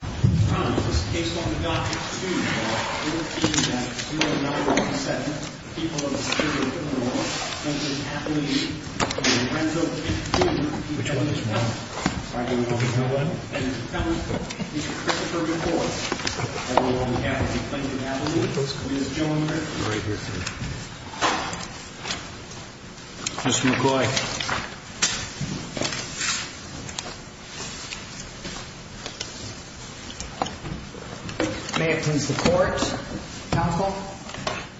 This is a case on the dock at the student hall. We were told that 297 people are distributed in the water, including Kathleen, Lorenzo, Kate, and June. Which one is one? I don't know. No one? No one. Mr. Christopher McCoy, everyone we have in Lincoln Avenue, please join me. Right here, sir. Mr. McCoy. May it please the court, counsel.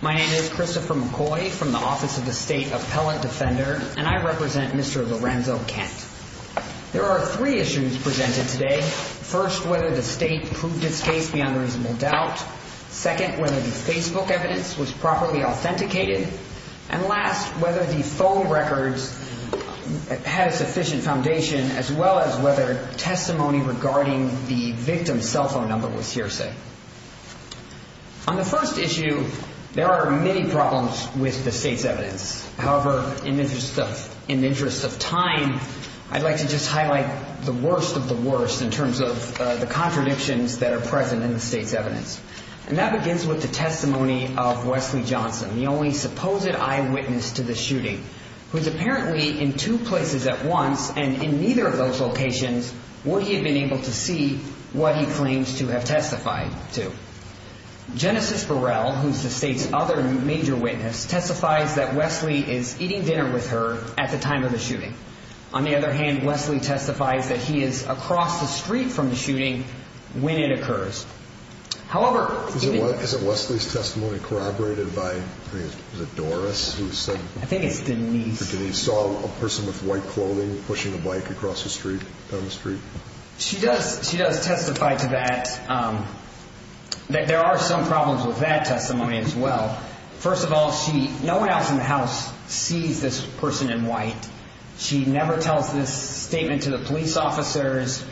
My name is Christopher McCoy from the Office of the State Appellant Defender, and I represent Mr. Lorenzo Kent. There are three issues presented today. First, whether the state proved this case beyond reasonable doubt. Second, whether the Facebook evidence was properly authenticated. And last, whether the phone records had a sufficient foundation, as well as whether testimony regarding the victim's cell phone number was hearsay. On the first issue, there are many problems with the state's evidence. However, in the interest of time, I'd like to just highlight the worst of the worst in terms of the contradictions that are present in the state's evidence. And that begins with the testimony of Wesley Johnson, the only supposed eyewitness to the shooting, who is apparently in two places at once, and in neither of those locations would he have been able to see what he claims to have testified to. Genesis Burrell, who is the state's other major witness, testifies that Wesley is eating dinner with her at the time of the shooting. On the other hand, Wesley testifies that he is across the street from the shooting when it occurs. However, is it Wesley's testimony corroborated by Doris? I think it's Denise. Denise saw a person with white clothing pushing a bike across the street, down the street? She does testify to that. There are some problems with that testimony as well. First of all, no one else in the house sees this person in white. She never tells this statement to the police officers.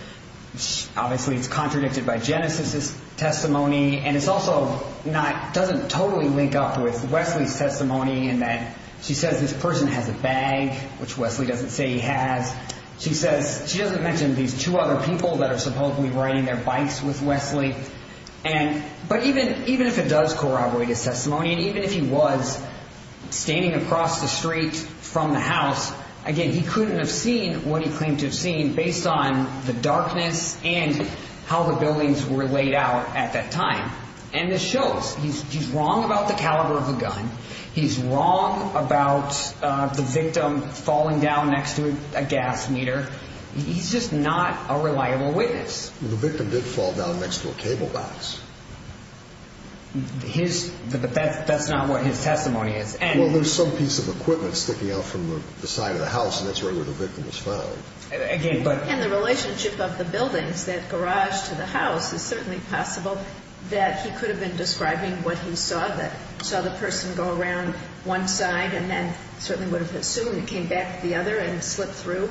Obviously, it's contradicted by Genesis' testimony. And it also doesn't totally link up with Wesley's testimony in that she says this person has a bag, which Wesley doesn't say he has. She doesn't mention these two other people that are supposedly riding their bikes with Wesley. But even if it does corroborate his testimony, and even if he was standing across the street from the house, again, he couldn't have seen what he claimed to have seen based on the darkness and how the buildings were laid out at that time. And this shows he's wrong about the caliber of the gun. He's wrong about the victim falling down next to a gas meter. He's just not a reliable witness. The victim did fall down next to a cable box. That's not what his testimony is. Well, there's some piece of equipment sticking out from the side of the house, and that's right where the victim was found. And the relationship of the buildings, that garage to the house, is certainly possible that he could have been describing what he saw, that he saw the person go around one side and then certainly would have assumed he came back to the other and slipped through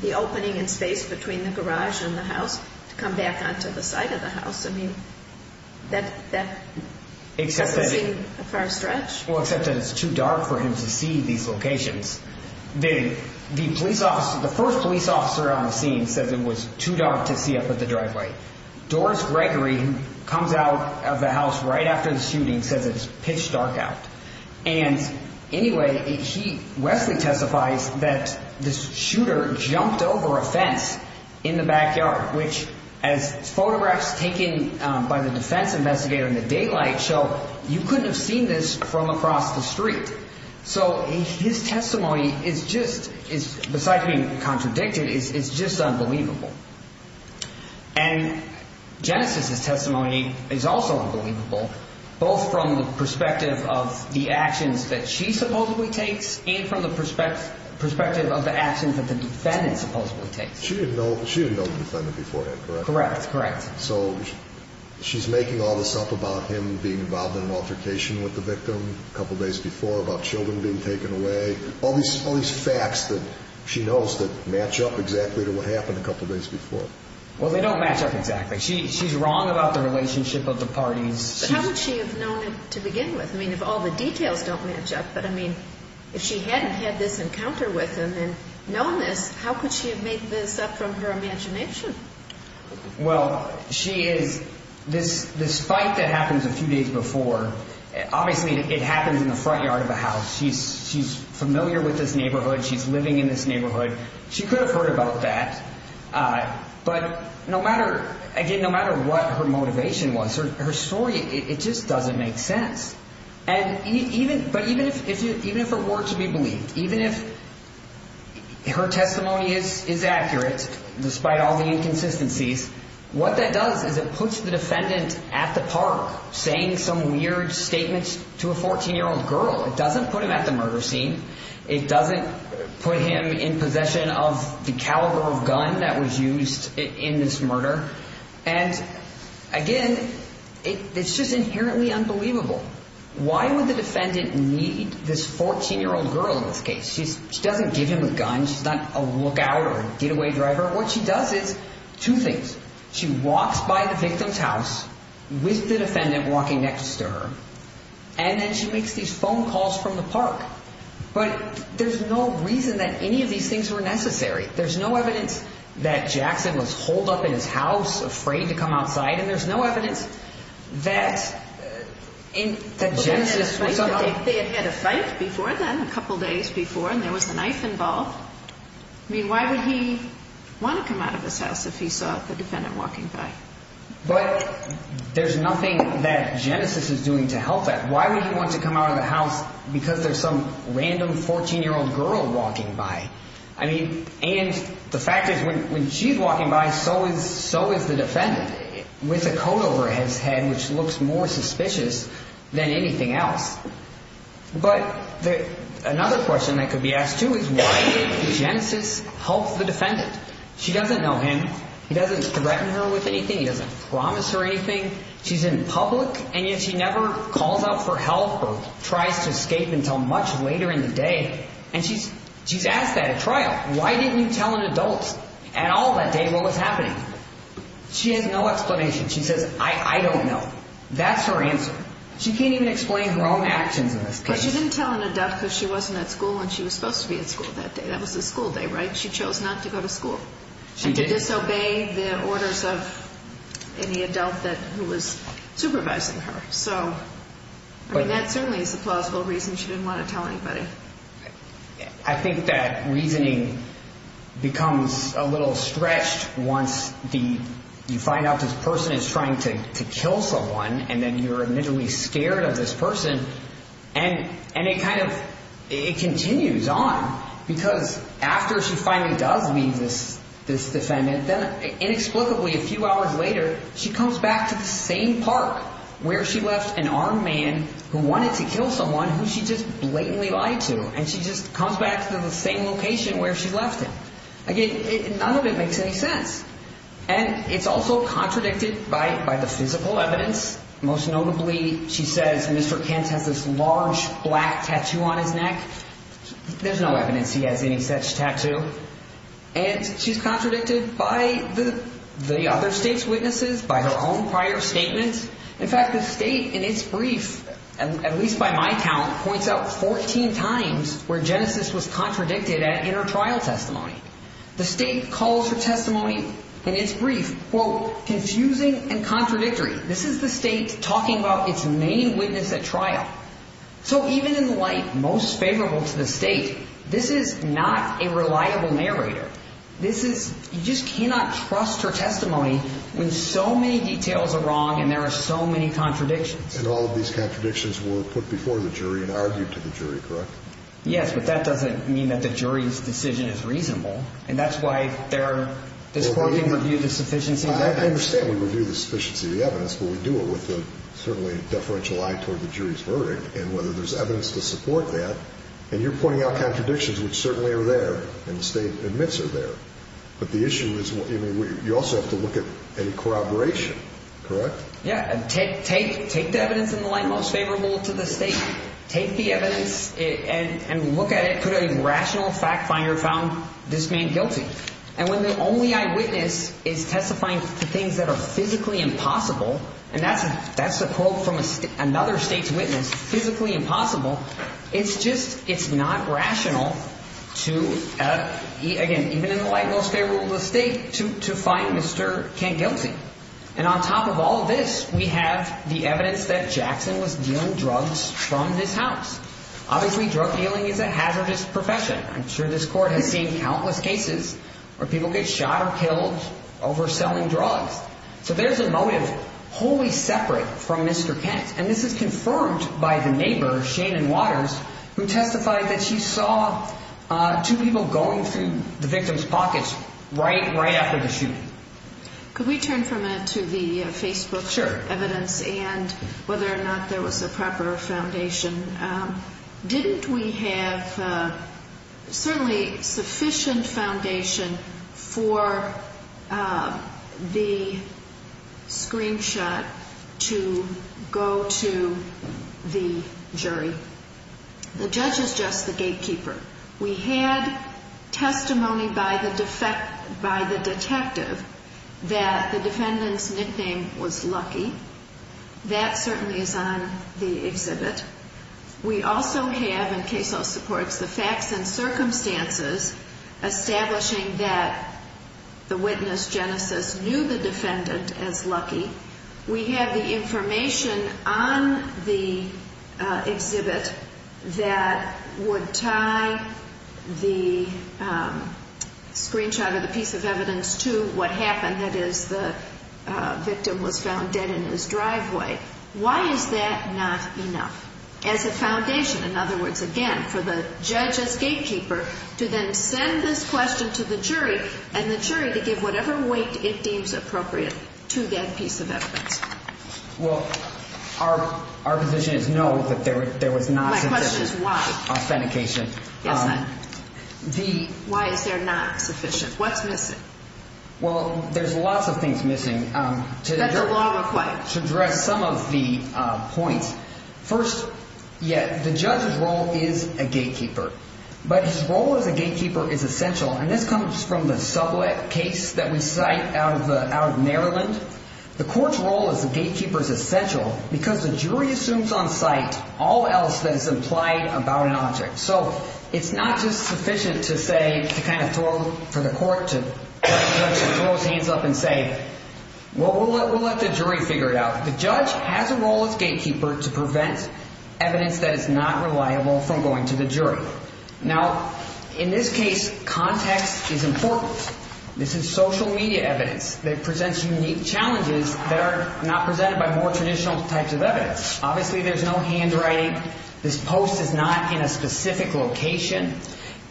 the opening in space between the garage and the house to come back onto the side of the house. I mean, that doesn't seem a far stretch. Well, except that it's too dark for him to see these locations. The police officer, the first police officer on the scene, says it was too dark to see up at the driveway. Doris Gregory, who comes out of the house right after the shooting, says it's pitch dark out. And anyway, Wesley testifies that this shooter jumped over a fence in the backyard, which, as photographs taken by the defense investigator in the daylight show, you couldn't have seen this from across the street. So his testimony is just is, besides being contradicted, is just unbelievable. And Genesis's testimony is also unbelievable, both from the perspective of the actions that she supposedly takes and from the perspective of the actions that the defendant supposedly takes. She didn't know the defendant beforehand, correct? Correct, correct. So she's making all this up about him being involved in an altercation with the victim a couple days before, about children being taken away, all these facts that she knows that match up exactly to what happened a couple days before. Well, they don't match up exactly. She's wrong about the relationship of the parties. But how would she have known it to begin with? I mean, if all the details don't match up, but I mean, if she hadn't had this encounter with him and known this, how could she have made this up from her imagination? Well, she is, this fight that happens a few days before, obviously it happens in the front yard of a house. She's familiar with this neighborhood. She's living in this neighborhood. She could have heard about that. But no matter, again, no matter what her motivation was, her story, it just doesn't make sense. But even if it were to be believed, even if her testimony is accurate, despite all the inconsistencies, what that does is it puts the defendant at the park saying some weird statements to a 14-year-old girl. It doesn't put him at the murder scene. It doesn't put him in possession of the caliber of gun that was used in this murder. And, again, it's just inherently unbelievable. Why would the defendant need this 14-year-old girl in this case? She doesn't give him a gun. She's not a lookout or a getaway driver. What she does is two things. She walks by the victim's house with the defendant walking next to her. And then she makes these phone calls from the park. But there's no reason that any of these things were necessary. There's no evidence that Jackson was holed up in his house, afraid to come outside. And there's no evidence that Genesis was somehow— They had had a fight before then, a couple days before, and there was a knife involved. I mean, why would he want to come out of his house if he saw the defendant walking by? But there's nothing that Genesis is doing to help that. Why would he want to come out of the house because there's some random 14-year-old girl walking by? I mean, and the fact is when she's walking by, so is the defendant, with a coat over his head, which looks more suspicious than anything else. But another question that could be asked, too, is why did Genesis help the defendant? She doesn't know him. He doesn't threaten her with anything. He doesn't promise her anything. She's in public, and yet she never calls out for help or tries to escape until much later in the day. And she's asked that at trial. Why didn't you tell an adult at all that day what was happening? She has no explanation. She says, I don't know. That's her answer. She can't even explain her own actions in this case. But she didn't tell an adult because she wasn't at school when she was supposed to be at school that day. That was the school day, right? She chose not to go to school and to disobey the orders of any adult who was supervising her. So, I mean, that certainly is a plausible reason she didn't want to tell anybody. I think that reasoning becomes a little stretched once you find out this person is trying to kill someone and then you're admittedly scared of this person. And it kind of continues on because after she finally does meet this defendant, then inexplicably, a few hours later, she comes back to the same park where she left an armed man who wanted to kill someone who she just blatantly lied to. And she just comes back to the same location where she left him. Again, none of it makes any sense. And it's also contradicted by the physical evidence. Most notably, she says Mr. Kent has this large black tattoo on his neck. There's no evidence he has any such tattoo. And she's contradicted by the other state's witnesses, by her own prior statements. In fact, the state, in its brief, at least by my count, points out 14 times where Genesis was contradicted in her trial testimony. The state calls her testimony in its brief, quote, confusing and contradictory. This is the state talking about its main witness at trial. So even in light most favorable to the state, this is not a reliable narrator. This is, you just cannot trust her testimony when so many details are wrong and there are so many contradictions. And all of these contradictions were put before the jury and argued to the jury, correct? Yes, but that doesn't mean that the jury's decision is reasonable. And that's why they're, this court didn't review the sufficiency of the evidence. I understand we review the sufficiency of the evidence, but we do it with a certainly deferential eye toward the jury's verdict and whether there's evidence to support that. And you're pointing out contradictions which certainly are there and the state admits are there. But the issue is you also have to look at any corroboration, correct? Yeah, take the evidence in the light most favorable to the state. Take the evidence and look at it. Could a rational fact finder have found this man guilty? And when the only eyewitness is testifying to things that are physically impossible, and that's a quote from another state's witness, physically impossible. It's just it's not rational to, again, even in the light most favorable to the state, to find Mr. Kent guilty. And on top of all of this, we have the evidence that Jackson was dealing drugs from his house. Obviously, drug dealing is a hazardous profession. I'm sure this court has seen countless cases where people get shot or killed over selling drugs. So there's a motive wholly separate from Mr. Kent. And this is confirmed by the neighbor, Shannon Waters, who testified that she saw two people going through the victim's pockets right after the shooting. Could we turn for a minute to the Facebook evidence and whether or not there was a proper foundation? Didn't we have certainly sufficient foundation for the screenshot to go to the jury? The judge is just the gatekeeper. We had testimony by the detective that the defendant's nickname was Lucky. That certainly is on the exhibit. We also have, and CASEL supports, the facts and circumstances establishing that the witness, Genesis, knew the defendant as Lucky. We have the information on the exhibit that would tie the screenshot or the piece of evidence to what happened. That is, the victim was found dead in his driveway. Why is that not enough as a foundation? In other words, again, for the judge as gatekeeper to then send this question to the jury and the jury to give whatever weight it deems appropriate to that piece of evidence. Well, our position is no, that there was not sufficient authentication. Why is there not sufficient? What's missing? Well, there's lots of things missing to address some of the points. First, yeah, the judge's role is a gatekeeper, but his role as a gatekeeper is essential. And this comes from the Sublette case that we cite out of Maryland. The court's role as a gatekeeper is essential because the jury assumes on site all else that is implied about an object. So it's not just sufficient to say, to kind of throw, for the court to throw his hands up and say, well, we'll let the jury figure it out. The judge has a role as gatekeeper to prevent evidence that is not reliable from going to the jury. Now, in this case, context is important. This is social media evidence that presents unique challenges that are not presented by more traditional types of evidence. Obviously, there's no handwriting. This post is not in a specific location.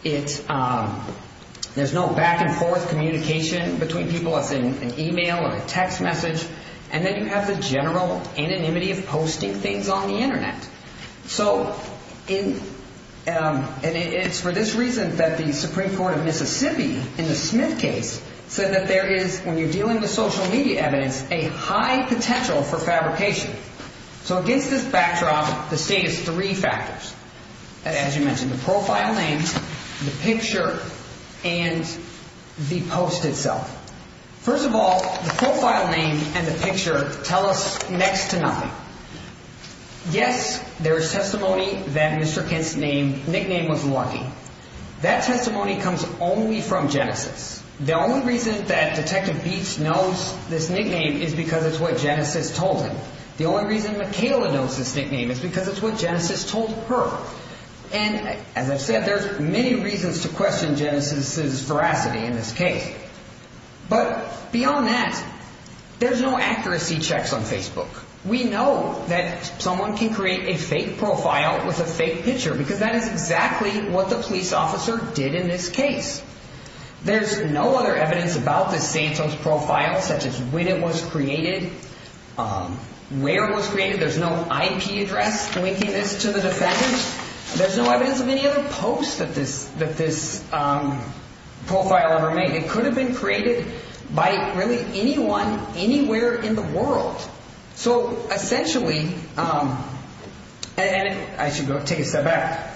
There's no back and forth communication between people that's in an email or a text message. And then you have the general anonymity of posting things on the Internet. So it's for this reason that the Supreme Court of Mississippi in the Smith case said that there is, when you're dealing with social media evidence, a high potential for fabrication. So against this backdrop, the state is three factors. As you mentioned, the profile name, the picture and the post itself. First of all, the profile name and the picture tell us next to nothing. Yes, there is testimony that Mr. Kent's name, nickname was Lucky. That testimony comes only from Genesis. The only reason that Detective Beets knows this nickname is because it's what Genesis told him. The only reason Michaela knows this nickname is because it's what Genesis told her. And as I said, there's many reasons to question Genesis's veracity in this case. But beyond that, there's no accuracy checks on Facebook. We know that someone can create a fake profile with a fake picture because that is exactly what the police officer did in this case. There's no other evidence about the Santos profile, such as when it was created, where it was created. There's no IP address linking this to the defendant. There's no evidence of any other post that this profile ever made. It could have been created by really anyone, anywhere in the world. So essentially, and I should take a step back.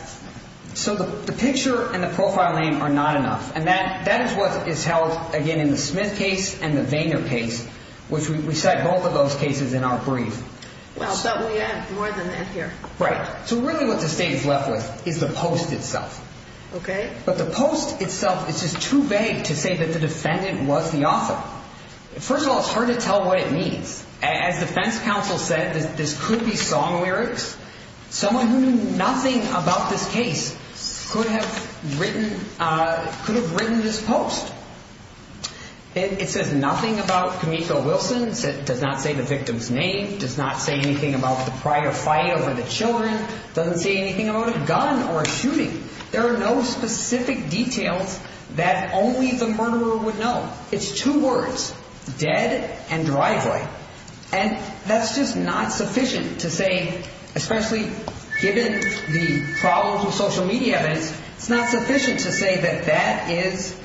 So the picture and the profile name are not enough. And that is what is held, again, in the Smith case and the Vayner case, which we cite both of those cases in our brief. Well, we have more than that here. Right. So really what the state is left with is the post itself. OK, but the post itself is just too vague to say that the defendant was the author. First of all, it's hard to tell what it means. As defense counsel said, this could be song lyrics. Someone who knew nothing about this case could have written could have written this post. It says nothing about Camilo Wilson. It does not say the victim's name, does not say anything about the prior fight over the children, doesn't say anything about a gun or a shooting. There are no specific details that only the murderer would know. It's two words, dead and driveway. And that's just not sufficient to say, especially given the problems with social media, it's not sufficient to say that that is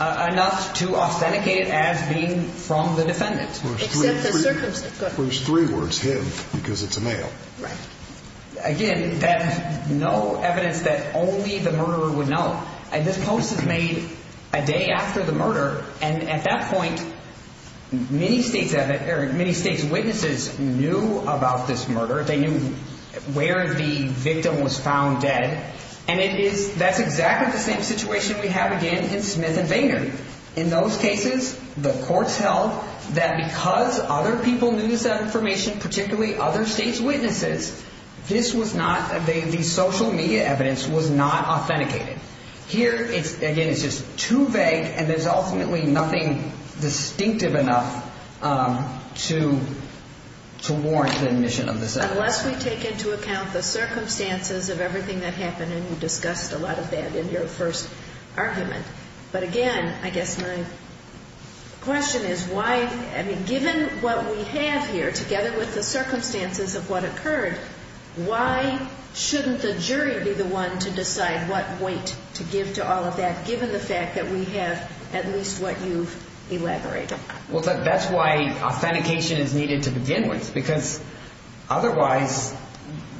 enough to authenticate it as being from the defendant. Except the circumstance. There's three words, him, because it's a male. Again, no evidence that only the murderer would know. And this post is made a day after the murder. And at that point, many states have many state's witnesses knew about this murder. They knew where the victim was found dead. And it is that's exactly the same situation we have again in Smith and Vayner. In those cases, the courts held that because other people knew this information, particularly other state's witnesses, this was not the social media evidence was not authenticated. Here, again, it's just too vague. And there's ultimately nothing distinctive enough to warrant the admission of this evidence. Unless we take into account the circumstances of everything that happened, and you discussed a lot of that in your first argument. But again, I guess my question is why, I mean, given what we have here, together with the circumstances of what occurred, why shouldn't the jury be the one to decide what weight to give to all of that, given the fact that we have at least what you've elaborated? Well, that's why authentication is needed to begin with. Because otherwise,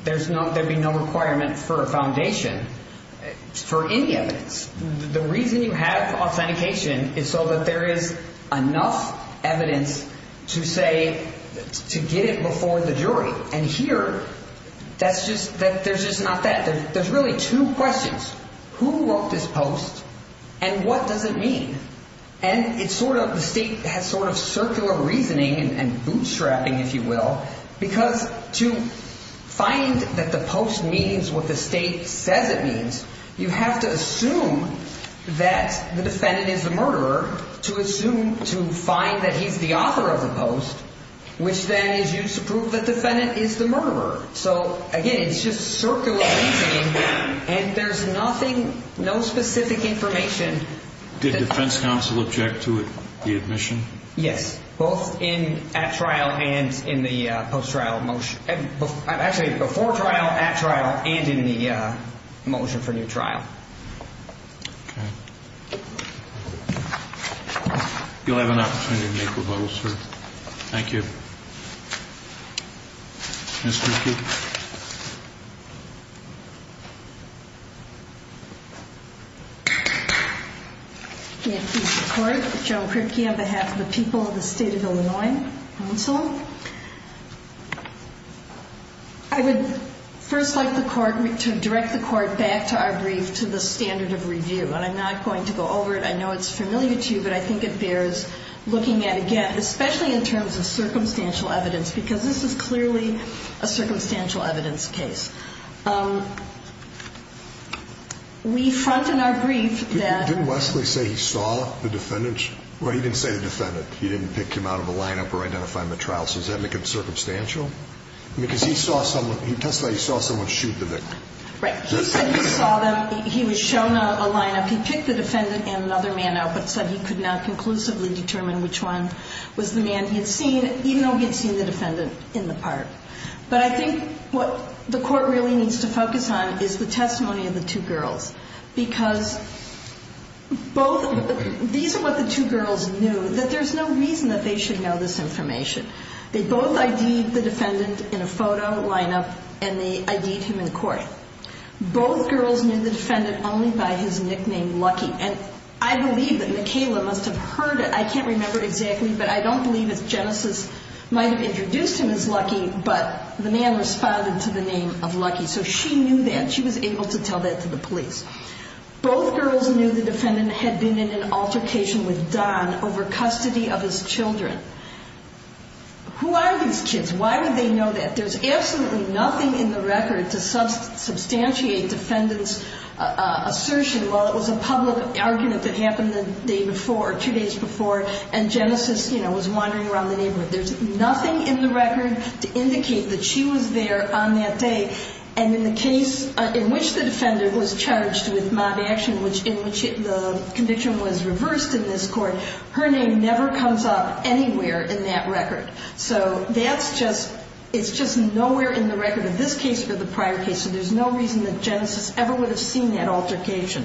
there'd be no requirement for a foundation for any evidence. The reason you have authentication is so that there is enough evidence to say, to get it before the jury. And here, that's just, there's just not that. There's really two questions. Who wrote this post and what does it mean? And it's sort of, the state has sort of circular reasoning and bootstrapping, if you will. Because to find that the post means what the state says it means, you have to assume that the defendant is the murderer to assume, to find that he's the author of the post, which then is used to prove the defendant is the murderer. So, again, it's just circular reasoning and there's nothing, no specific information. Did defense counsel object to the admission? Yes. Both in at trial and in the post-trial motion. Actually, before trial, at trial, and in the motion for new trial. Okay. You'll have an opportunity to make rebuttals, sir. Thank you. Mr. Cook? Thank you, Mr. Court. Joan Kripke on behalf of the people of the state of Illinois. Counsel. I would first like the court to direct the court back to our brief to the standard of review. And I'm not going to go over it. I know it's familiar to you, but I think it bears looking at again, especially in terms of circumstantial evidence. Because this is clearly a circumstantial evidence case. We front in our brief that. Didn't Wesley say he saw the defendant? Well, he didn't say the defendant. He didn't pick him out of the lineup or identify him at trial. So does that make him circumstantial? Because he saw someone, he testified he saw someone shoot the victim. Right. He said he saw them. He was shown a lineup. He picked the defendant and another man out, but said he could not conclusively determine which one was the man he had seen, even though he had seen the defendant in the park. But I think what the court really needs to focus on is the testimony of the two girls. Because both, these are what the two girls knew that there's no reason that they should know this information. They both ID'd the defendant in a photo lineup and they ID'd him in court. Both girls knew the defendant only by his nickname Lucky. And I believe that Michaela must have heard it. I can't remember exactly, but I don't believe if Genesis might have introduced him as Lucky, but the man responded to the name of Lucky. So she knew that. She was able to tell that to the police. Both girls knew the defendant had been in an altercation with Don over custody of his children. Who are these kids? Why would they know that? There's absolutely nothing in the record to substantiate defendant's assertion, well, it was a public argument that happened the day before, two days before, and Genesis, you know, was wandering around the neighborhood. There's nothing in the record to indicate that she was there on that day. And in the case in which the defendant was charged with mob action, in which the conviction was reversed in this court, her name never comes up anywhere in that record. So that's just, it's just nowhere in the record in this case or the prior case. So there's no reason that Genesis ever would have seen that altercation.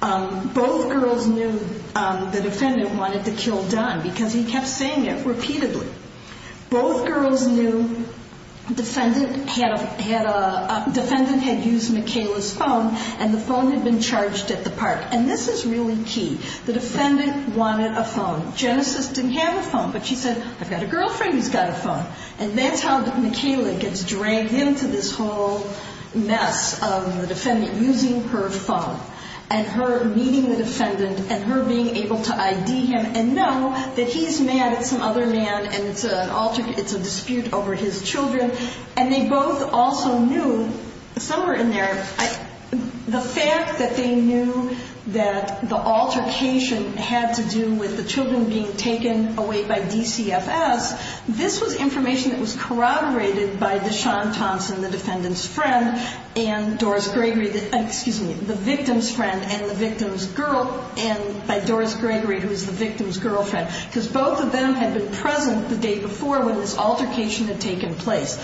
Both girls knew the defendant wanted to kill Don because he kept saying it repeatedly. Both girls knew defendant had used Michaela's phone and the phone had been charged at the park. And this is really key. The defendant wanted a phone. Genesis didn't have a phone, but she said, I've got a girlfriend who's got a phone. And that's how Michaela gets dragged into this whole mess of the defendant using her phone and her meeting the defendant and her being able to ID him and know that he's mad at some other man and it's an altercation, it's a dispute over his children. And they both also knew, some were in there, the fact that they knew that the altercation had to do with the children being taken away by DCFS. This was information that was corroborated by Deshaun Thompson, the defendant's friend, and Doris Gregory, excuse me, the victim's friend and the victim's girl, and by Doris Gregory who was the victim's girlfriend. Because both of them had been present the day before when this altercation had taken place.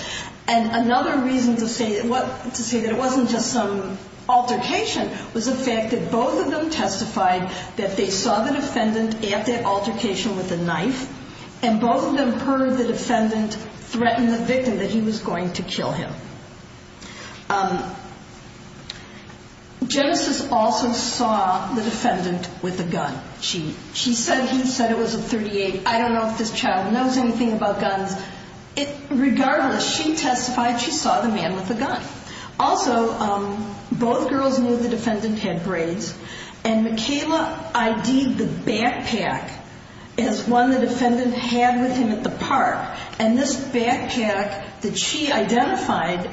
And another reason to say that it wasn't just some altercation was the fact that both of them testified that they saw the defendant at that altercation with a knife, and both of them heard the defendant threaten the victim that he was going to kill him. Genesis also saw the defendant with a gun. She said he said it was a .38. I don't know if this child knows anything about guns. Also, both girls knew the defendant had braids, and Mikayla ID'd the backpack as one the defendant had with him at the park. And this backpack that she identified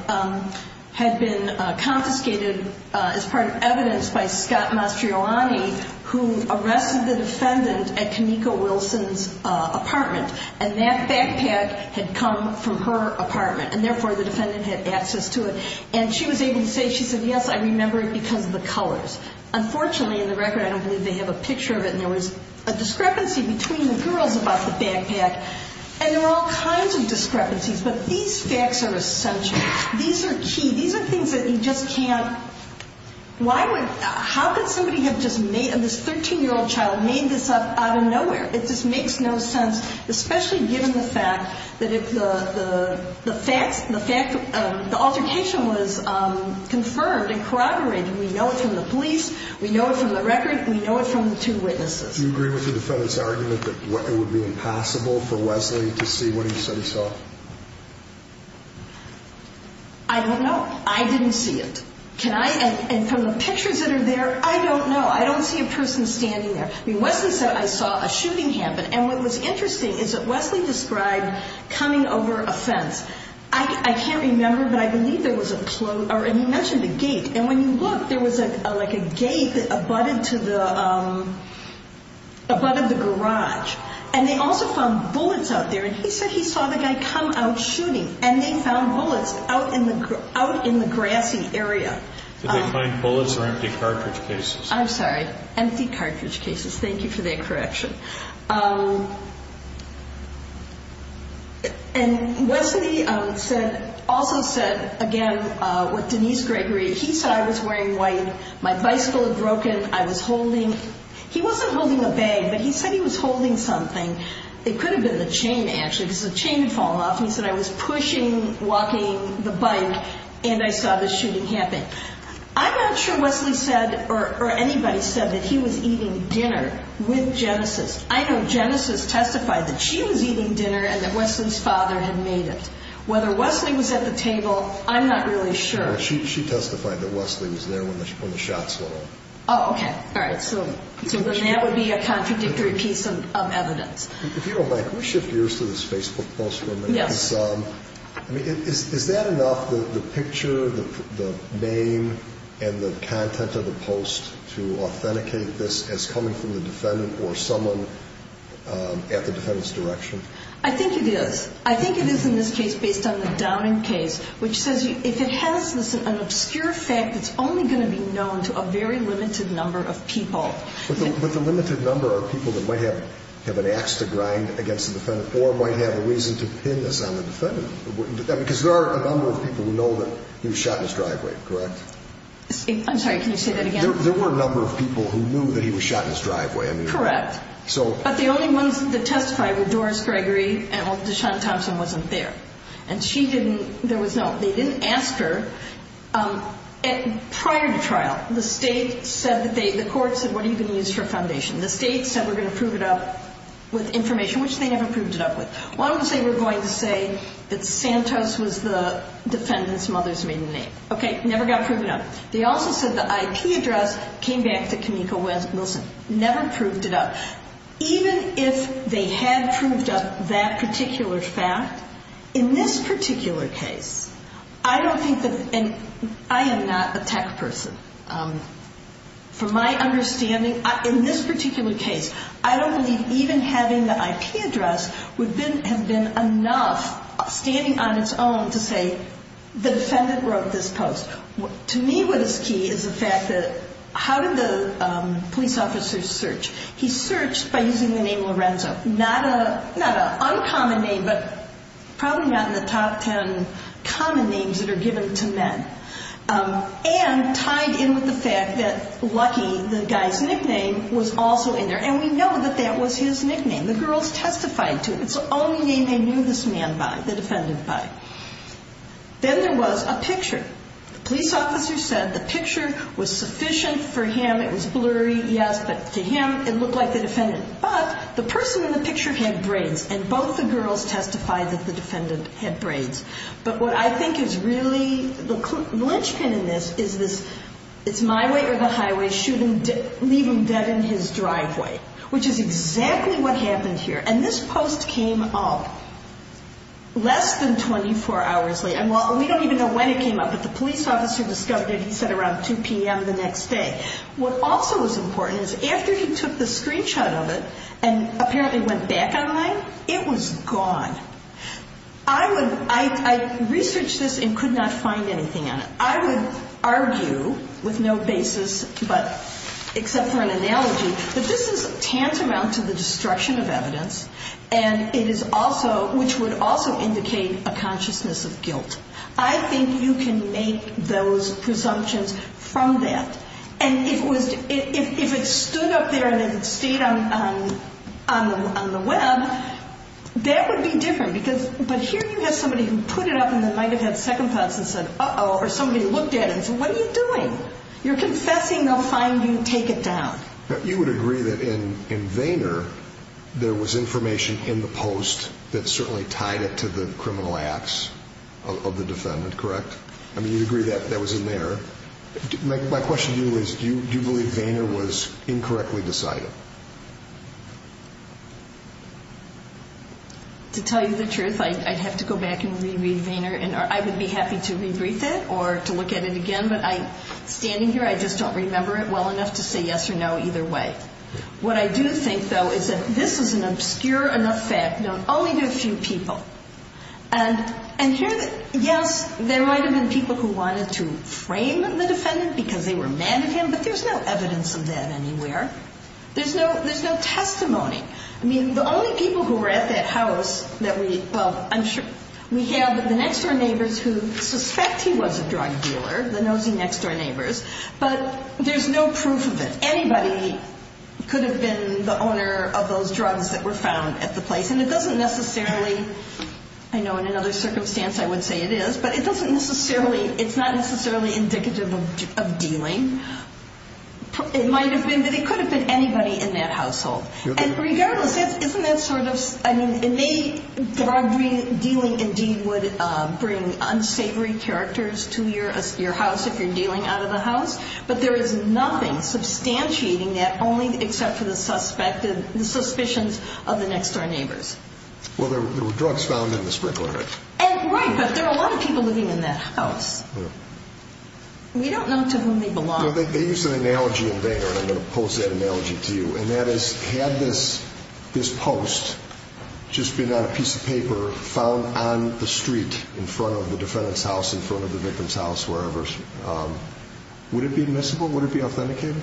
had been confiscated as part of evidence by Scott Mastriolani, who arrested the defendant at Kanika Wilson's apartment. And that backpack had come from her apartment, and therefore the defendant had access to it. And she was able to say, she said, yes, I remember it because of the colors. Unfortunately, in the record, I don't believe they have a picture of it, and there was a discrepancy between the girls about the backpack. And there were all kinds of discrepancies, but these facts are essential. These are key. These are things that you just can't why would how could somebody have just made, and this 13-year-old child made this up out of nowhere. It just makes no sense, especially given the fact that the altercation was confirmed and corroborated. We know it from the police. We know it from the record. We know it from the two witnesses. Do you agree with the defendant's argument that it would be impossible for Wesley to see what he said he saw? I don't know. I didn't see it. And from the pictures that are there, I don't know. I don't see a person standing there. I mean, Wesley said, I saw a shooting happen. And what was interesting is that Wesley described coming over a fence. I can't remember, but I believe there was a – and he mentioned a gate. And when you look, there was like a gate that abutted to the – abutted the garage. And they also found bullets out there. And he said he saw the guy come out shooting, and they found bullets out in the grassy area. Did they find bullets or empty cartridge cases? I'm sorry. Empty cartridge cases. Thank you for that correction. And Wesley said – also said, again, what Denise Gregory – he said, I was wearing white. My bicycle had broken. I was holding – he wasn't holding a bag, but he said he was holding something. It could have been the chain, actually, because the chain had fallen off. And he said, I was pushing, walking the bike, and I saw the shooting happen. Okay. I'm not sure Wesley said or anybody said that he was eating dinner with Genesis. I know Genesis testified that she was eating dinner and that Wesley's father had made it. Whether Wesley was at the table, I'm not really sure. She testified that Wesley was there when the shots went off. Oh, okay. All right. So then that would be a contradictory piece of evidence. If you don't mind, can we shift gears to this Facebook post for a minute? Yes. Is that enough, the picture, the name, and the content of the post to authenticate this as coming from the defendant or someone at the defendant's direction? I think it is. I think it is in this case based on the Downing case, which says if it has an obscure fact, it's only going to be known to a very limited number of people. But the limited number are people that might have an ax to grind against the defendant or might have a reason to pin this on the defendant. Because there are a number of people who know that he was shot in his driveway, correct? I'm sorry, can you say that again? There were a number of people who knew that he was shot in his driveway. Correct. But the only ones that testified were Doris Gregory and Deshaun Thompson wasn't there. And she didn't, there was no, they didn't ask her. Prior to trial, the state said that they, the court said, what are you going to use for foundation? The state said we're going to prove it up with information, which they never proved it up with. One would say we're going to say that Santos was the defendant's mother's maiden name. Okay, never got proven up. They also said the IP address came back to Kimiko Wilson. Never proved it up. Even if they had proved up that particular fact, in this particular case, I don't think that, and I am not a tech person. From my understanding, in this particular case, I don't believe even having the IP address would have been enough, standing on its own, to say the defendant wrote this post. To me what is key is the fact that, how did the police officer search? He searched by using the name Lorenzo. Not an uncommon name, but probably not in the top ten common names that are given to men. And tied in with the fact that Lucky, the guy's nickname, was also in there. And we know that that was his nickname. The girls testified to it. It's the only name they knew this man by, the defendant by. Then there was a picture. The police officer said the picture was sufficient for him. It was blurry, yes, but to him it looked like the defendant. But the person in the picture had braids, and both the girls testified that the defendant had braids. But what I think is really the linchpin in this is this, it's my way or the highway, leave him dead in his driveway, which is exactly what happened here. And this post came up less than 24 hours late. And we don't even know when it came up, but the police officer discovered it, he said, around 2 p.m. the next day. What also was important is after he took the screenshot of it and apparently went back online, it was gone. I researched this and could not find anything on it. I would argue with no basis except for an analogy that this is tantamount to the destruction of evidence, which would also indicate a consciousness of guilt. I think you can make those presumptions from that. And if it stood up there and it stayed on the web, that would be different. But here you have somebody who put it up and then might have had second thoughts and said, uh-oh, or somebody looked at it and said, what are you doing? You're confessing, they'll find you and take it down. You would agree that in Vayner there was information in the post that certainly tied it to the criminal acts of the defendant, correct? I mean, you'd agree that that was in there. My question to you is do you believe Vayner was incorrectly decided? To tell you the truth, I'd have to go back and re-read Vayner. I would be happy to re-read that or to look at it again, but standing here I just don't remember it well enough to say yes or no either way. What I do think, though, is that this is an obscure enough fact known only to a few people. And here, yes, there might have been people who wanted to frame the defendant because they were mad at him, but there's no evidence of that anywhere. There's no testimony. I mean, the only people who were at that house that we – well, I'm sure we have the next-door neighbors who suspect he was a drug dealer, the nosy next-door neighbors, but there's no proof of it. Anybody could have been the owner of those drugs that were found at the place, and it doesn't necessarily – I know in another circumstance I would say it is, but it doesn't necessarily – it's not necessarily indicative of dealing. It might have been, but it could have been anybody in that household. And regardless, isn't that sort of – I mean, it may – drug dealing indeed would bring unsavory characters to your house if you're dealing out of the house, but there is nothing substantiating that except for the suspicions of the next-door neighbors. Well, there were drugs found in the sprinkler. Right, but there were a lot of people living in that house. We don't know to whom they belonged. They used an analogy in Vayner, and I'm going to post that analogy to you, and that is had this post just been on a piece of paper found on the street in front of the defendant's house, in front of the victim's house, wherever, would it be admissible? Would it be authenticated?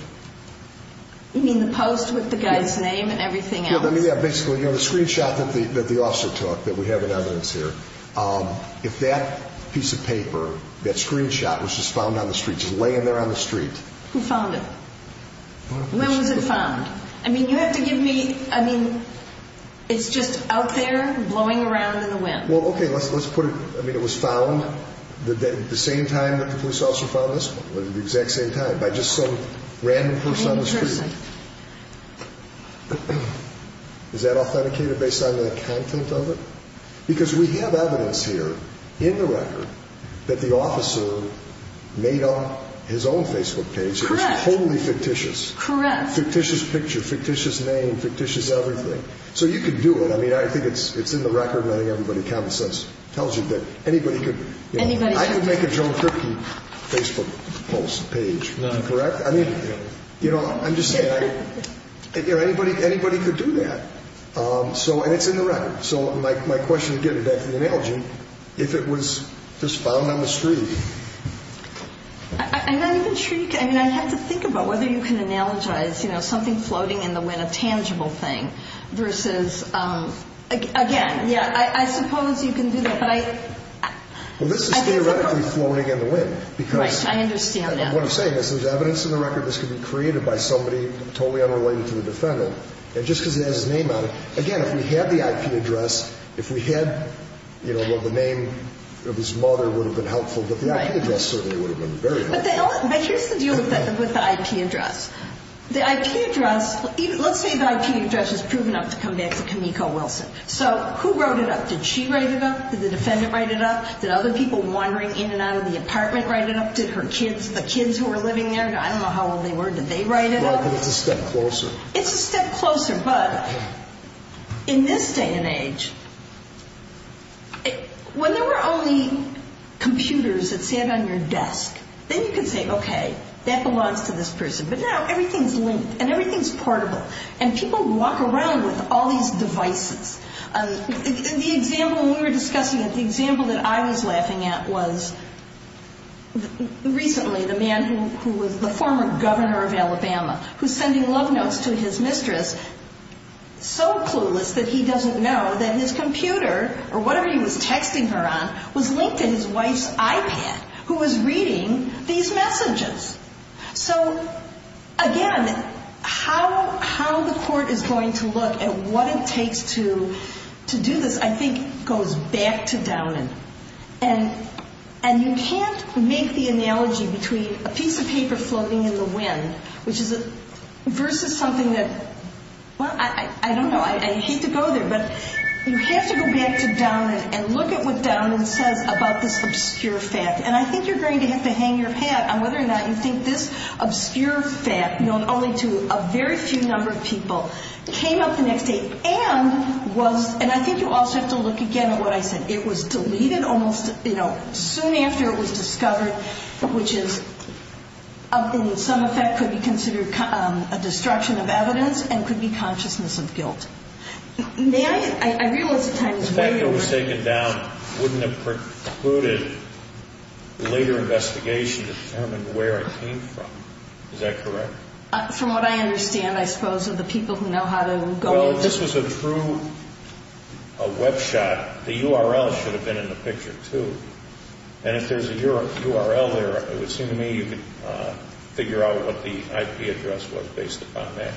You mean the post with the guy's name and everything else? Yeah, basically the screenshot that the officer took that we have in evidence here, if that piece of paper, that screenshot was just found on the street, just laying there on the street. Who found it? When was it found? I mean, you have to give me – I mean, it's just out there blowing around in the wind. Well, okay, let's put it – I mean, it was found at the same time that the police officer found this one, at the exact same time, by just some random person on the street. Interesting. Is that authenticated based on the content of it? Because we have evidence here in the record that the officer made up his own Facebook page. Correct. It was totally fictitious. Correct. Fictitious picture, fictitious name, fictitious everything. So you could do it. I mean, I think it's in the record. I think everybody kind of tells you that anybody could – I could make a Joan Kripke Facebook post page, correct? I mean, you know, I'm just saying, anybody could do that. And it's in the record. So my question again, in analogy, if it was just found on the street. I'm not even sure you can – I mean, I have to think about whether you can analogize, you know, something floating in the wind, a tangible thing, versus – again, yeah, I suppose you can do that. But I – Well, this is theoretically floating in the wind. Right, I understand that. Because what I'm saying is there's evidence in the record that this could be created by somebody totally unrelated to the defendant. And just because it has his name on it – again, if we had the IP address, if we had, you know, the name of his mother would have been helpful, but the IP address certainly would have been very helpful. But here's the deal with the IP address. The IP address – let's say the IP address is proven up to come back to Kimiko Wilson. So who wrote it up? Did she write it up? Did the defendant write it up? Did other people wandering in and out of the apartment write it up? Did her kids – the kids who were living there? I don't know how old they were. Did they write it up? Well, it's a step closer. It's a step closer. But in this day and age, when there were only computers that sat on your desk, then you could say, okay, that belongs to this person. But now everything's linked and everything's portable. And people walk around with all these devices. The example – we were discussing it. The example that I was laughing at was recently the man who was the former governor of Alabama who's sending love notes to his mistress so clueless that he doesn't know that his computer or whatever he was texting her on was linked to his wife's iPad, who was reading these messages. So, again, how the court is going to look at what it takes to do this I think goes back to Downand. And you can't make the analogy between a piece of paper floating in the wind versus something that – well, I don't know. I hate to go there. But you have to go back to Downand and look at what Downand says about this obscure fact. And I think you're going to have to hang your hat on whether or not you think this obscure fact, known only to a very few number of people, came up the next day and was – and I think you also have to look again at what I said. It was deleted almost soon after it was discovered, which is, in some effect, could be considered a destruction of evidence and could be consciousness of guilt. May I – I realize the time is way over. The fact it was taken down wouldn't have precluded later investigation to determine where it came from. Is that correct? From what I understand, I suppose, of the people who know how to go into – Well, if this was a true web shot, the URL should have been in the picture too. And if there's a URL there, it would seem to me you could figure out what the IP address was based upon that.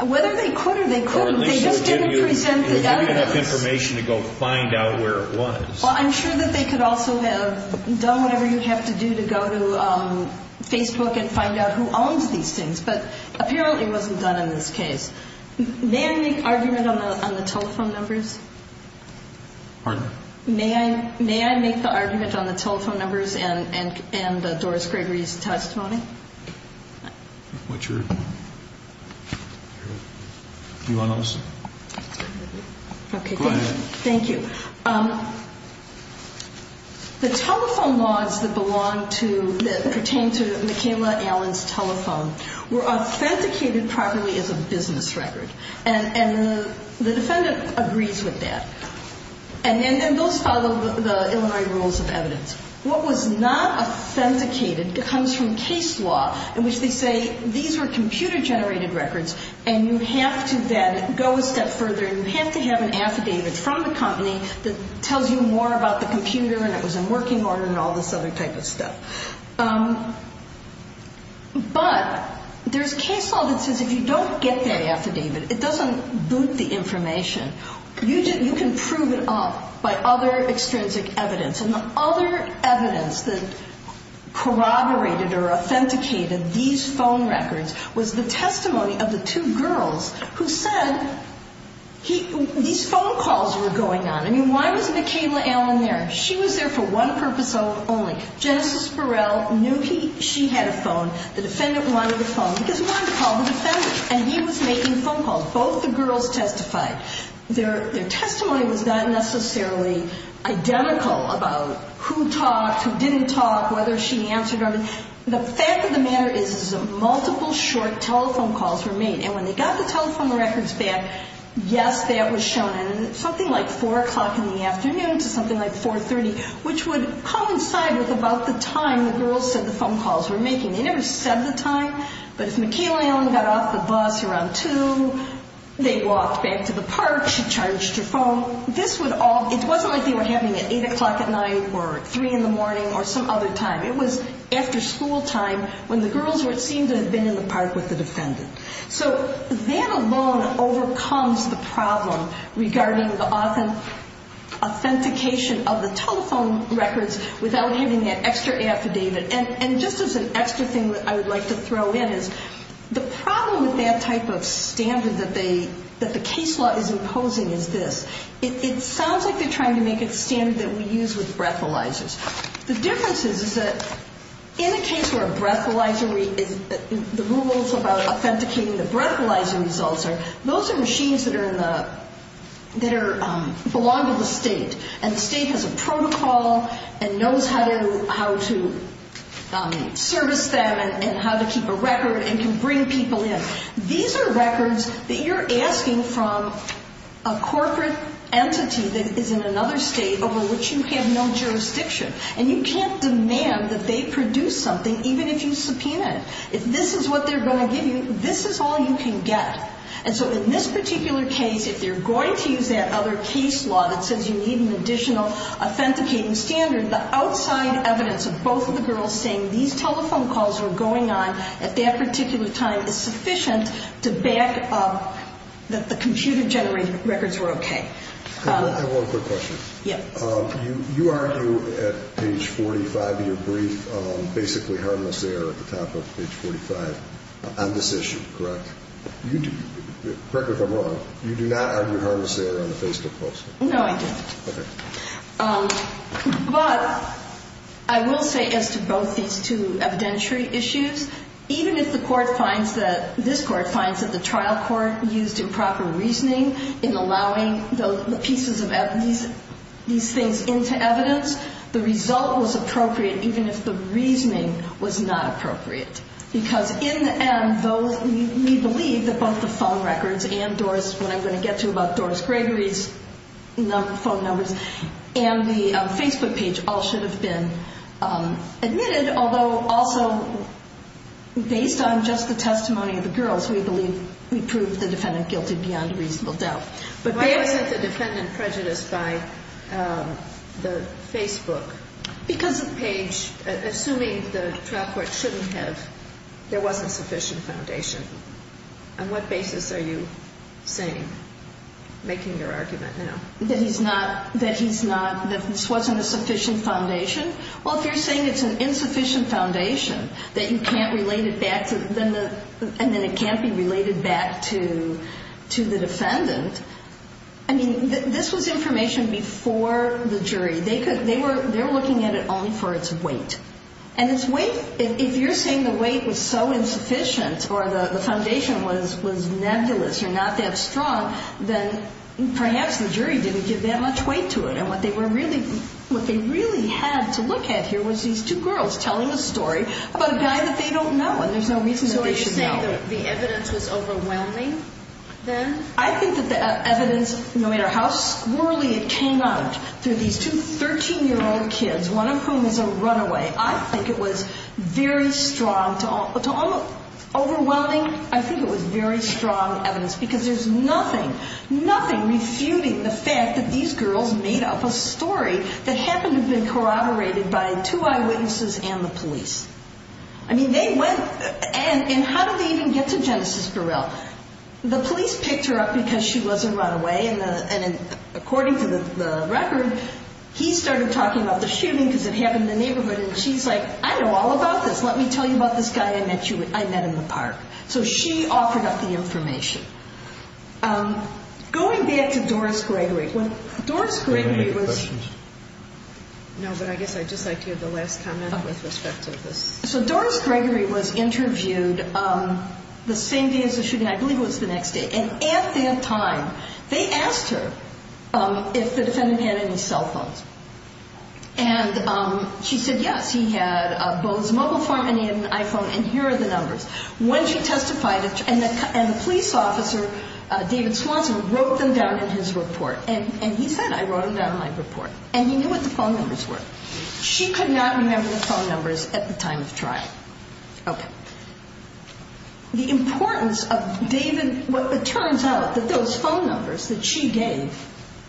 Whether they could or they couldn't, they just didn't present the evidence. Or at least they would give you enough information to go find out where it was. Well, I'm sure that they could also have done whatever you have to do to go to Facebook and find out who owns these things. But apparently it wasn't done in this case. May I make argument on the telephone numbers? Pardon? May I make the argument on the telephone numbers and Doris Gregory's testimony? What's your – do you want to listen? Okay. Go ahead. Thank you. The telephone logs that belong to – that pertain to Michaela Allen's telephone were authenticated properly as a business record. And the defendant agrees with that. And those follow the Illinois Rules of Evidence. What was not authenticated comes from case law in which they say these were computer-generated records and you have to then go a step further and you have to have an affidavit from the company that tells you more about the computer and it was in working order and all this other type of stuff. But there's case law that says if you don't get that affidavit, it doesn't boot the information. You can prove it up by other extrinsic evidence. And the other evidence that corroborated or authenticated these phone records was the testimony of the two girls who said these phone calls were going on. I mean, why was Michaela Allen there? She was there for one purpose only. Genesis Burrell knew she had a phone. The defendant wanted a phone because he wanted to call the defendant. And he was making phone calls. Both the girls testified. Their testimony was not necessarily identical about who talked, who didn't talk, whether she answered them. The fact of the matter is that multiple short telephone calls were made. And when they got the telephone records back, yes, that was shown. And it was something like 4 o'clock in the afternoon to something like 4.30, which would coincide with about the time the girls said the phone calls were making. They never said the time, but if Michaela Allen got off the bus around 2, they walked back to the park, she charged her phone. This would all, it wasn't like they were having it 8 o'clock at night or 3 in the morning or some other time. It was after school time when the girls would seem to have been in the park with the defendant. So that alone overcomes the problem regarding the authentication of the telephone records without having that extra affidavit. And just as an extra thing that I would like to throw in is the problem with that type of standard that they, that the case law is imposing is this. It sounds like they're trying to make it a standard that we use with breathalyzers. The difference is that in a case where a breathalyzer is, the rules about authenticating the breathalyzer results are, those are machines that are in the, that are, belong to the state. And the state has a protocol and knows how to service them and how to keep a record and can bring people in. These are records that you're asking from a corporate entity that is in another state over which you have no jurisdiction. And you can't demand that they produce something even if you subpoena it. If this is what they're going to give you, this is all you can get. And so in this particular case, if you're going to use that other case law that says you need an additional authenticating standard, the outside evidence of both of the girls saying these telephone calls were going on at that particular time is sufficient to back up that the computer-generated records were okay. I have one quick question. Yeah. You argue at page 45 of your brief basically harmless error at the top of page 45 on this issue, correct? Correct me if I'm wrong. You do not argue harmless error on the Facebook posts? No, I don't. Okay. But I will say as to both these two evidentiary issues, even if the Court finds that, this Court finds that the trial court used improper reasoning in allowing the pieces of evidence, these things into evidence, the result was appropriate even if the reasoning was not appropriate. Because in the end, we believe that both the phone records and Doris, what I'm going to get to about Doris Gregory's phone numbers, and the Facebook page all should have been admitted, although also based on just the testimony of the girls, we believe we proved the defendant guilty beyond reasonable doubt. Why wasn't the defendant prejudiced by the Facebook? Because the page, assuming the trial court shouldn't have, there wasn't sufficient foundation. On what basis are you saying, making your argument now? That he's not, that he's not, that this wasn't a sufficient foundation? Well, if you're saying it's an insufficient foundation, that you can't relate it back to, and then it can't be related back to the defendant, I mean, this was information before the jury. They were looking at it only for its weight. And its weight, if you're saying the weight was so insufficient or the foundation was nebulous or not that strong, then perhaps the jury didn't give that much weight to it. And what they really had to look at here was these two girls telling a story about a guy that they don't know, and there's no reason that they should know. So are you saying that the evidence was overwhelming then? I think that the evidence, no matter how squirrelly it came out, through these two 13-year-old kids, one of whom is a runaway, I think it was very strong, overwhelming, I think it was very strong evidence, because there's nothing, nothing refuting the fact that these girls made up a story that happened to have been corroborated by two eyewitnesses and the police. I mean, they went, and how did they even get to Genesis Burrell? Well, the police picked her up because she was a runaway, and according to the record, he started talking about the shooting because it happened in the neighborhood, and she's like, I know all about this, let me tell you about this guy I met in the park. So she offered up the information. Going back to Doris Gregory, when Doris Gregory was- Do we have any questions? No, but I guess I'd just like to hear the last comment with respect to this. So Doris Gregory was interviewed the same day as the shooting, I believe it was the next day, and at that time, they asked her if the defendant had any cell phones, and she said yes, he had both his mobile phone and he had an iPhone, and here are the numbers. When she testified, and the police officer, David Swanson, wrote them down in his report, and he said, I wrote them down in my report, and he knew what the phone numbers were. She could not remember the phone numbers at the time of the trial. Okay. The importance of David- It turns out that those phone numbers that she gave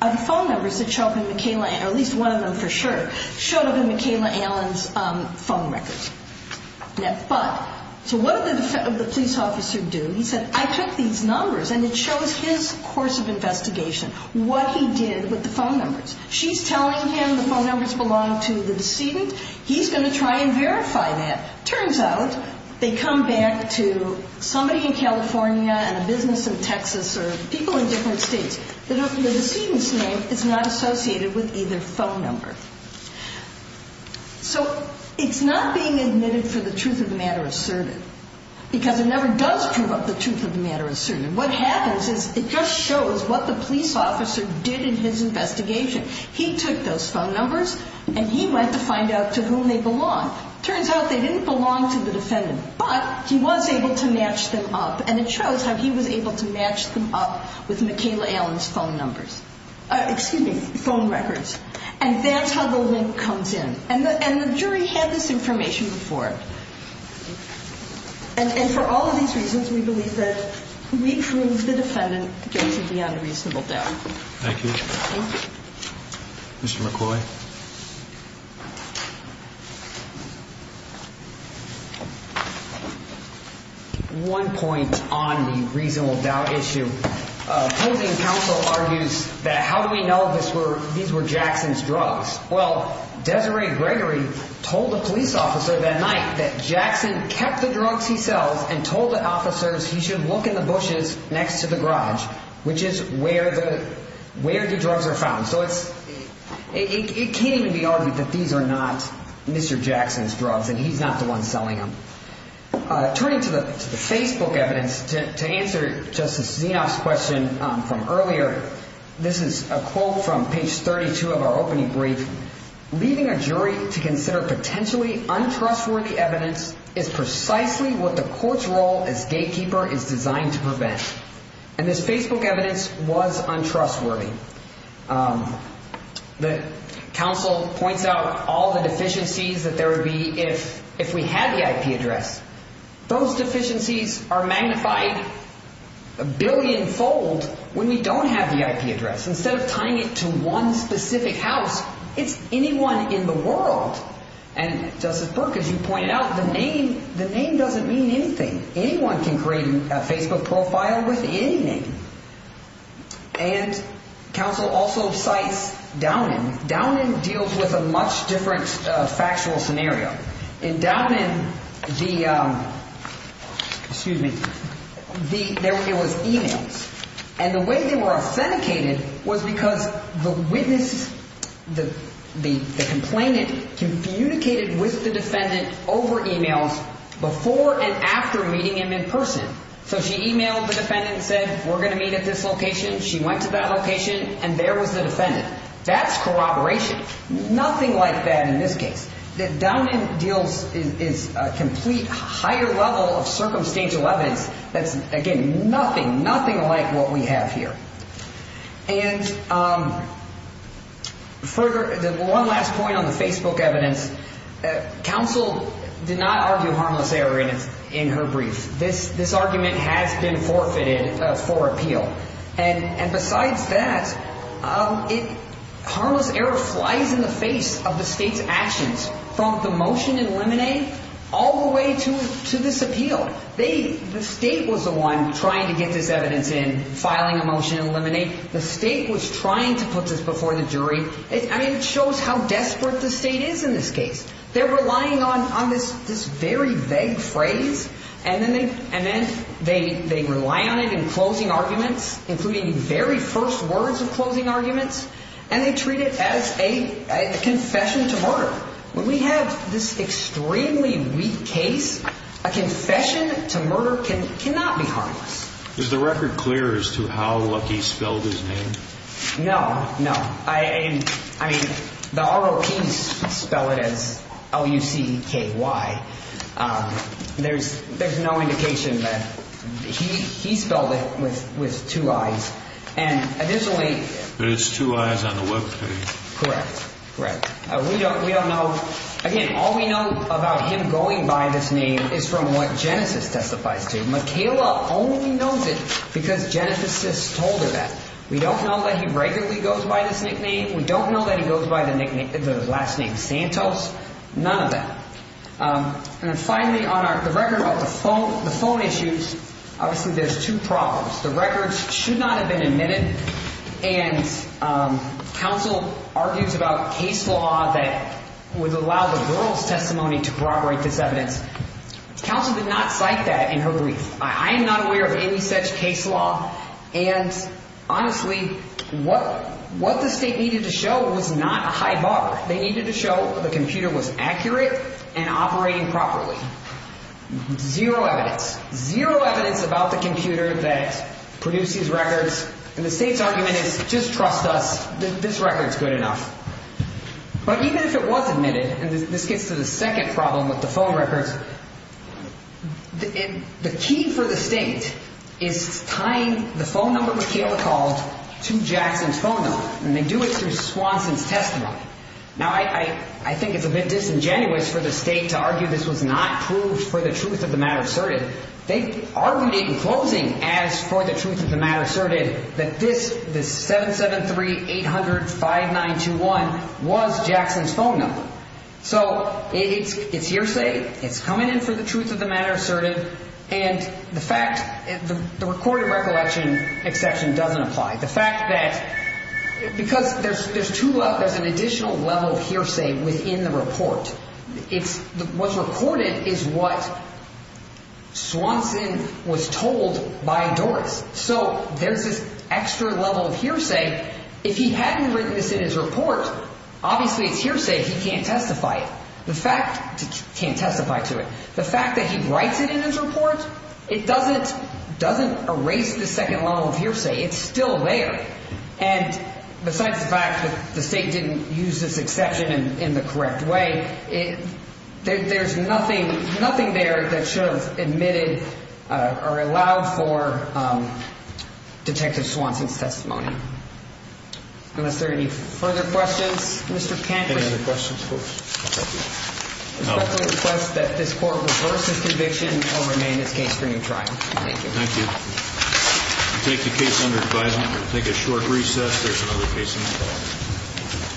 are the phone numbers that show up in McKayla- or at least one of them for sure- showed up in McKayla Allen's phone records. So what did the police officer do? He said, I took these numbers, and it shows his course of investigation, what he did with the phone numbers. She's telling him the phone numbers belong to the decedent. He's going to try and verify that. Turns out they come back to somebody in California and a business in Texas or people in different states. The decedent's name is not associated with either phone number. So it's not being admitted for the truth of the matter asserted because it never does prove up the truth of the matter asserted. And what happens is it just shows what the police officer did in his investigation. He took those phone numbers, and he went to find out to whom they belong. Turns out they didn't belong to the defendant, but he was able to match them up, and it shows how he was able to match them up with McKayla Allen's phone numbers. Excuse me, phone records. And that's how the link comes in. And the jury had this information before. And for all of these reasons, we believe that we proved the defendant guilty of the unreasonable doubt. Thank you. Mr. McCoy. One point on the reasonable doubt issue. Closing counsel argues that how do we know these were Jackson's drugs? Well, Desiree Gregory told a police officer that night that Jackson kept the drugs he sells and told the officers he should look in the bushes next to the garage, which is where the drugs are found. So it can't even be argued that these are not Mr. Jackson's drugs, and he's not the one selling them. Turning to the Facebook evidence, to answer Justice Zinoff's question from earlier, this is a quote from page 32 of our opening brief. Leaving a jury to consider potentially untrustworthy evidence is precisely what the court's role as gatekeeper is designed to prevent. And this Facebook evidence was untrustworthy. The counsel points out all the deficiencies that there would be if we had the IP address. Those deficiencies are magnified a billion-fold when we don't have the IP address. Instead of tying it to one specific house, it's anyone in the world. And, Justice Burke, as you pointed out, the name doesn't mean anything. Anyone can create a Facebook profile with any name. And counsel also cites Downan. Downan deals with a much different factual scenario. In Downan, the, excuse me, there was e-mails. And the way they were authenticated was because the witness, the complainant, communicated with the defendant over e-mails before and after meeting him in person. So she e-mailed the defendant and said, we're going to meet at this location. She went to that location, and there was the defendant. That's corroboration. Nothing like that in this case. Downan deals is a complete higher level of circumstantial evidence that's, again, nothing, nothing like what we have here. And further, one last point on the Facebook evidence. Counsel did not argue harmless error in her brief. This argument has been forfeited for appeal. And besides that, harmless error flies in the face of the state's actions, from the motion in Lemonade all the way to this appeal. The state was the one trying to get this evidence in, filing a motion in Lemonade. The state was trying to put this before the jury. I mean, it shows how desperate the state is in this case. They're relying on this very vague phrase. And then they rely on it in closing arguments, including the very first words of closing arguments. And they treat it as a confession to murder. When we have this extremely weak case, a confession to murder cannot be harmless. Is the record clear as to how Lucky spelled his name? No, no. I mean, the ROPs spell it as L-U-C-K-Y. There's no indication that he spelled it with two I's. And additionally— But it's two I's on the Web page. Correct, correct. We don't know. Again, all we know about him going by this name is from what Genesis testifies to. Michaela only knows it because Genesis told her that. We don't know that he regularly goes by this nickname. We don't know that he goes by the last name Santos. None of that. And then finally, on the record about the phone issues, obviously there's two problems. The records should not have been admitted. And counsel argues about case law that would allow the girl's testimony to corroborate this evidence. Counsel did not cite that in her brief. I am not aware of any such case law. And honestly, what the state needed to show was not a high bar. They needed to show the computer was accurate and operating properly. Zero evidence. Zero evidence about the computer that produced these records. And the state's argument is just trust us, this record's good enough. But even if it was admitted—and this gets to the second problem with the phone records— the key for the state is tying the phone number Michaela called to Jackson's phone number. And they do it through Swanson's testimony. Now, I think it's a bit disingenuous for the state to argue this was not proved for the truth of the matter asserted. They argued in closing as for the truth of the matter asserted that this 773-800-5921 was Jackson's phone number. So it's hearsay. It's coming in for the truth of the matter asserted. And the fact—the recorded recollection exception doesn't apply. The fact that—because there's two—there's an additional level of hearsay within the report. It's—what's recorded is what Swanson was told by Doris. So there's this extra level of hearsay. If he hadn't written this in his report, obviously it's hearsay. He can't testify it. The fact—can't testify to it. The fact that he writes it in his report, it doesn't erase the second level of hearsay. It's still there. And besides the fact that the state didn't use this exception in the correct way, there's nothing— nothing there that should have admitted or allowed for Detective Swanson's testimony. Unless there are any further questions. Mr. Pankhurst. Any questions? No. I respectfully request that this court reverse its conviction and remain in its case during trial. Thank you. Thank you. We'll take the case under advisement. We'll take a short recess. There's another case in the fall.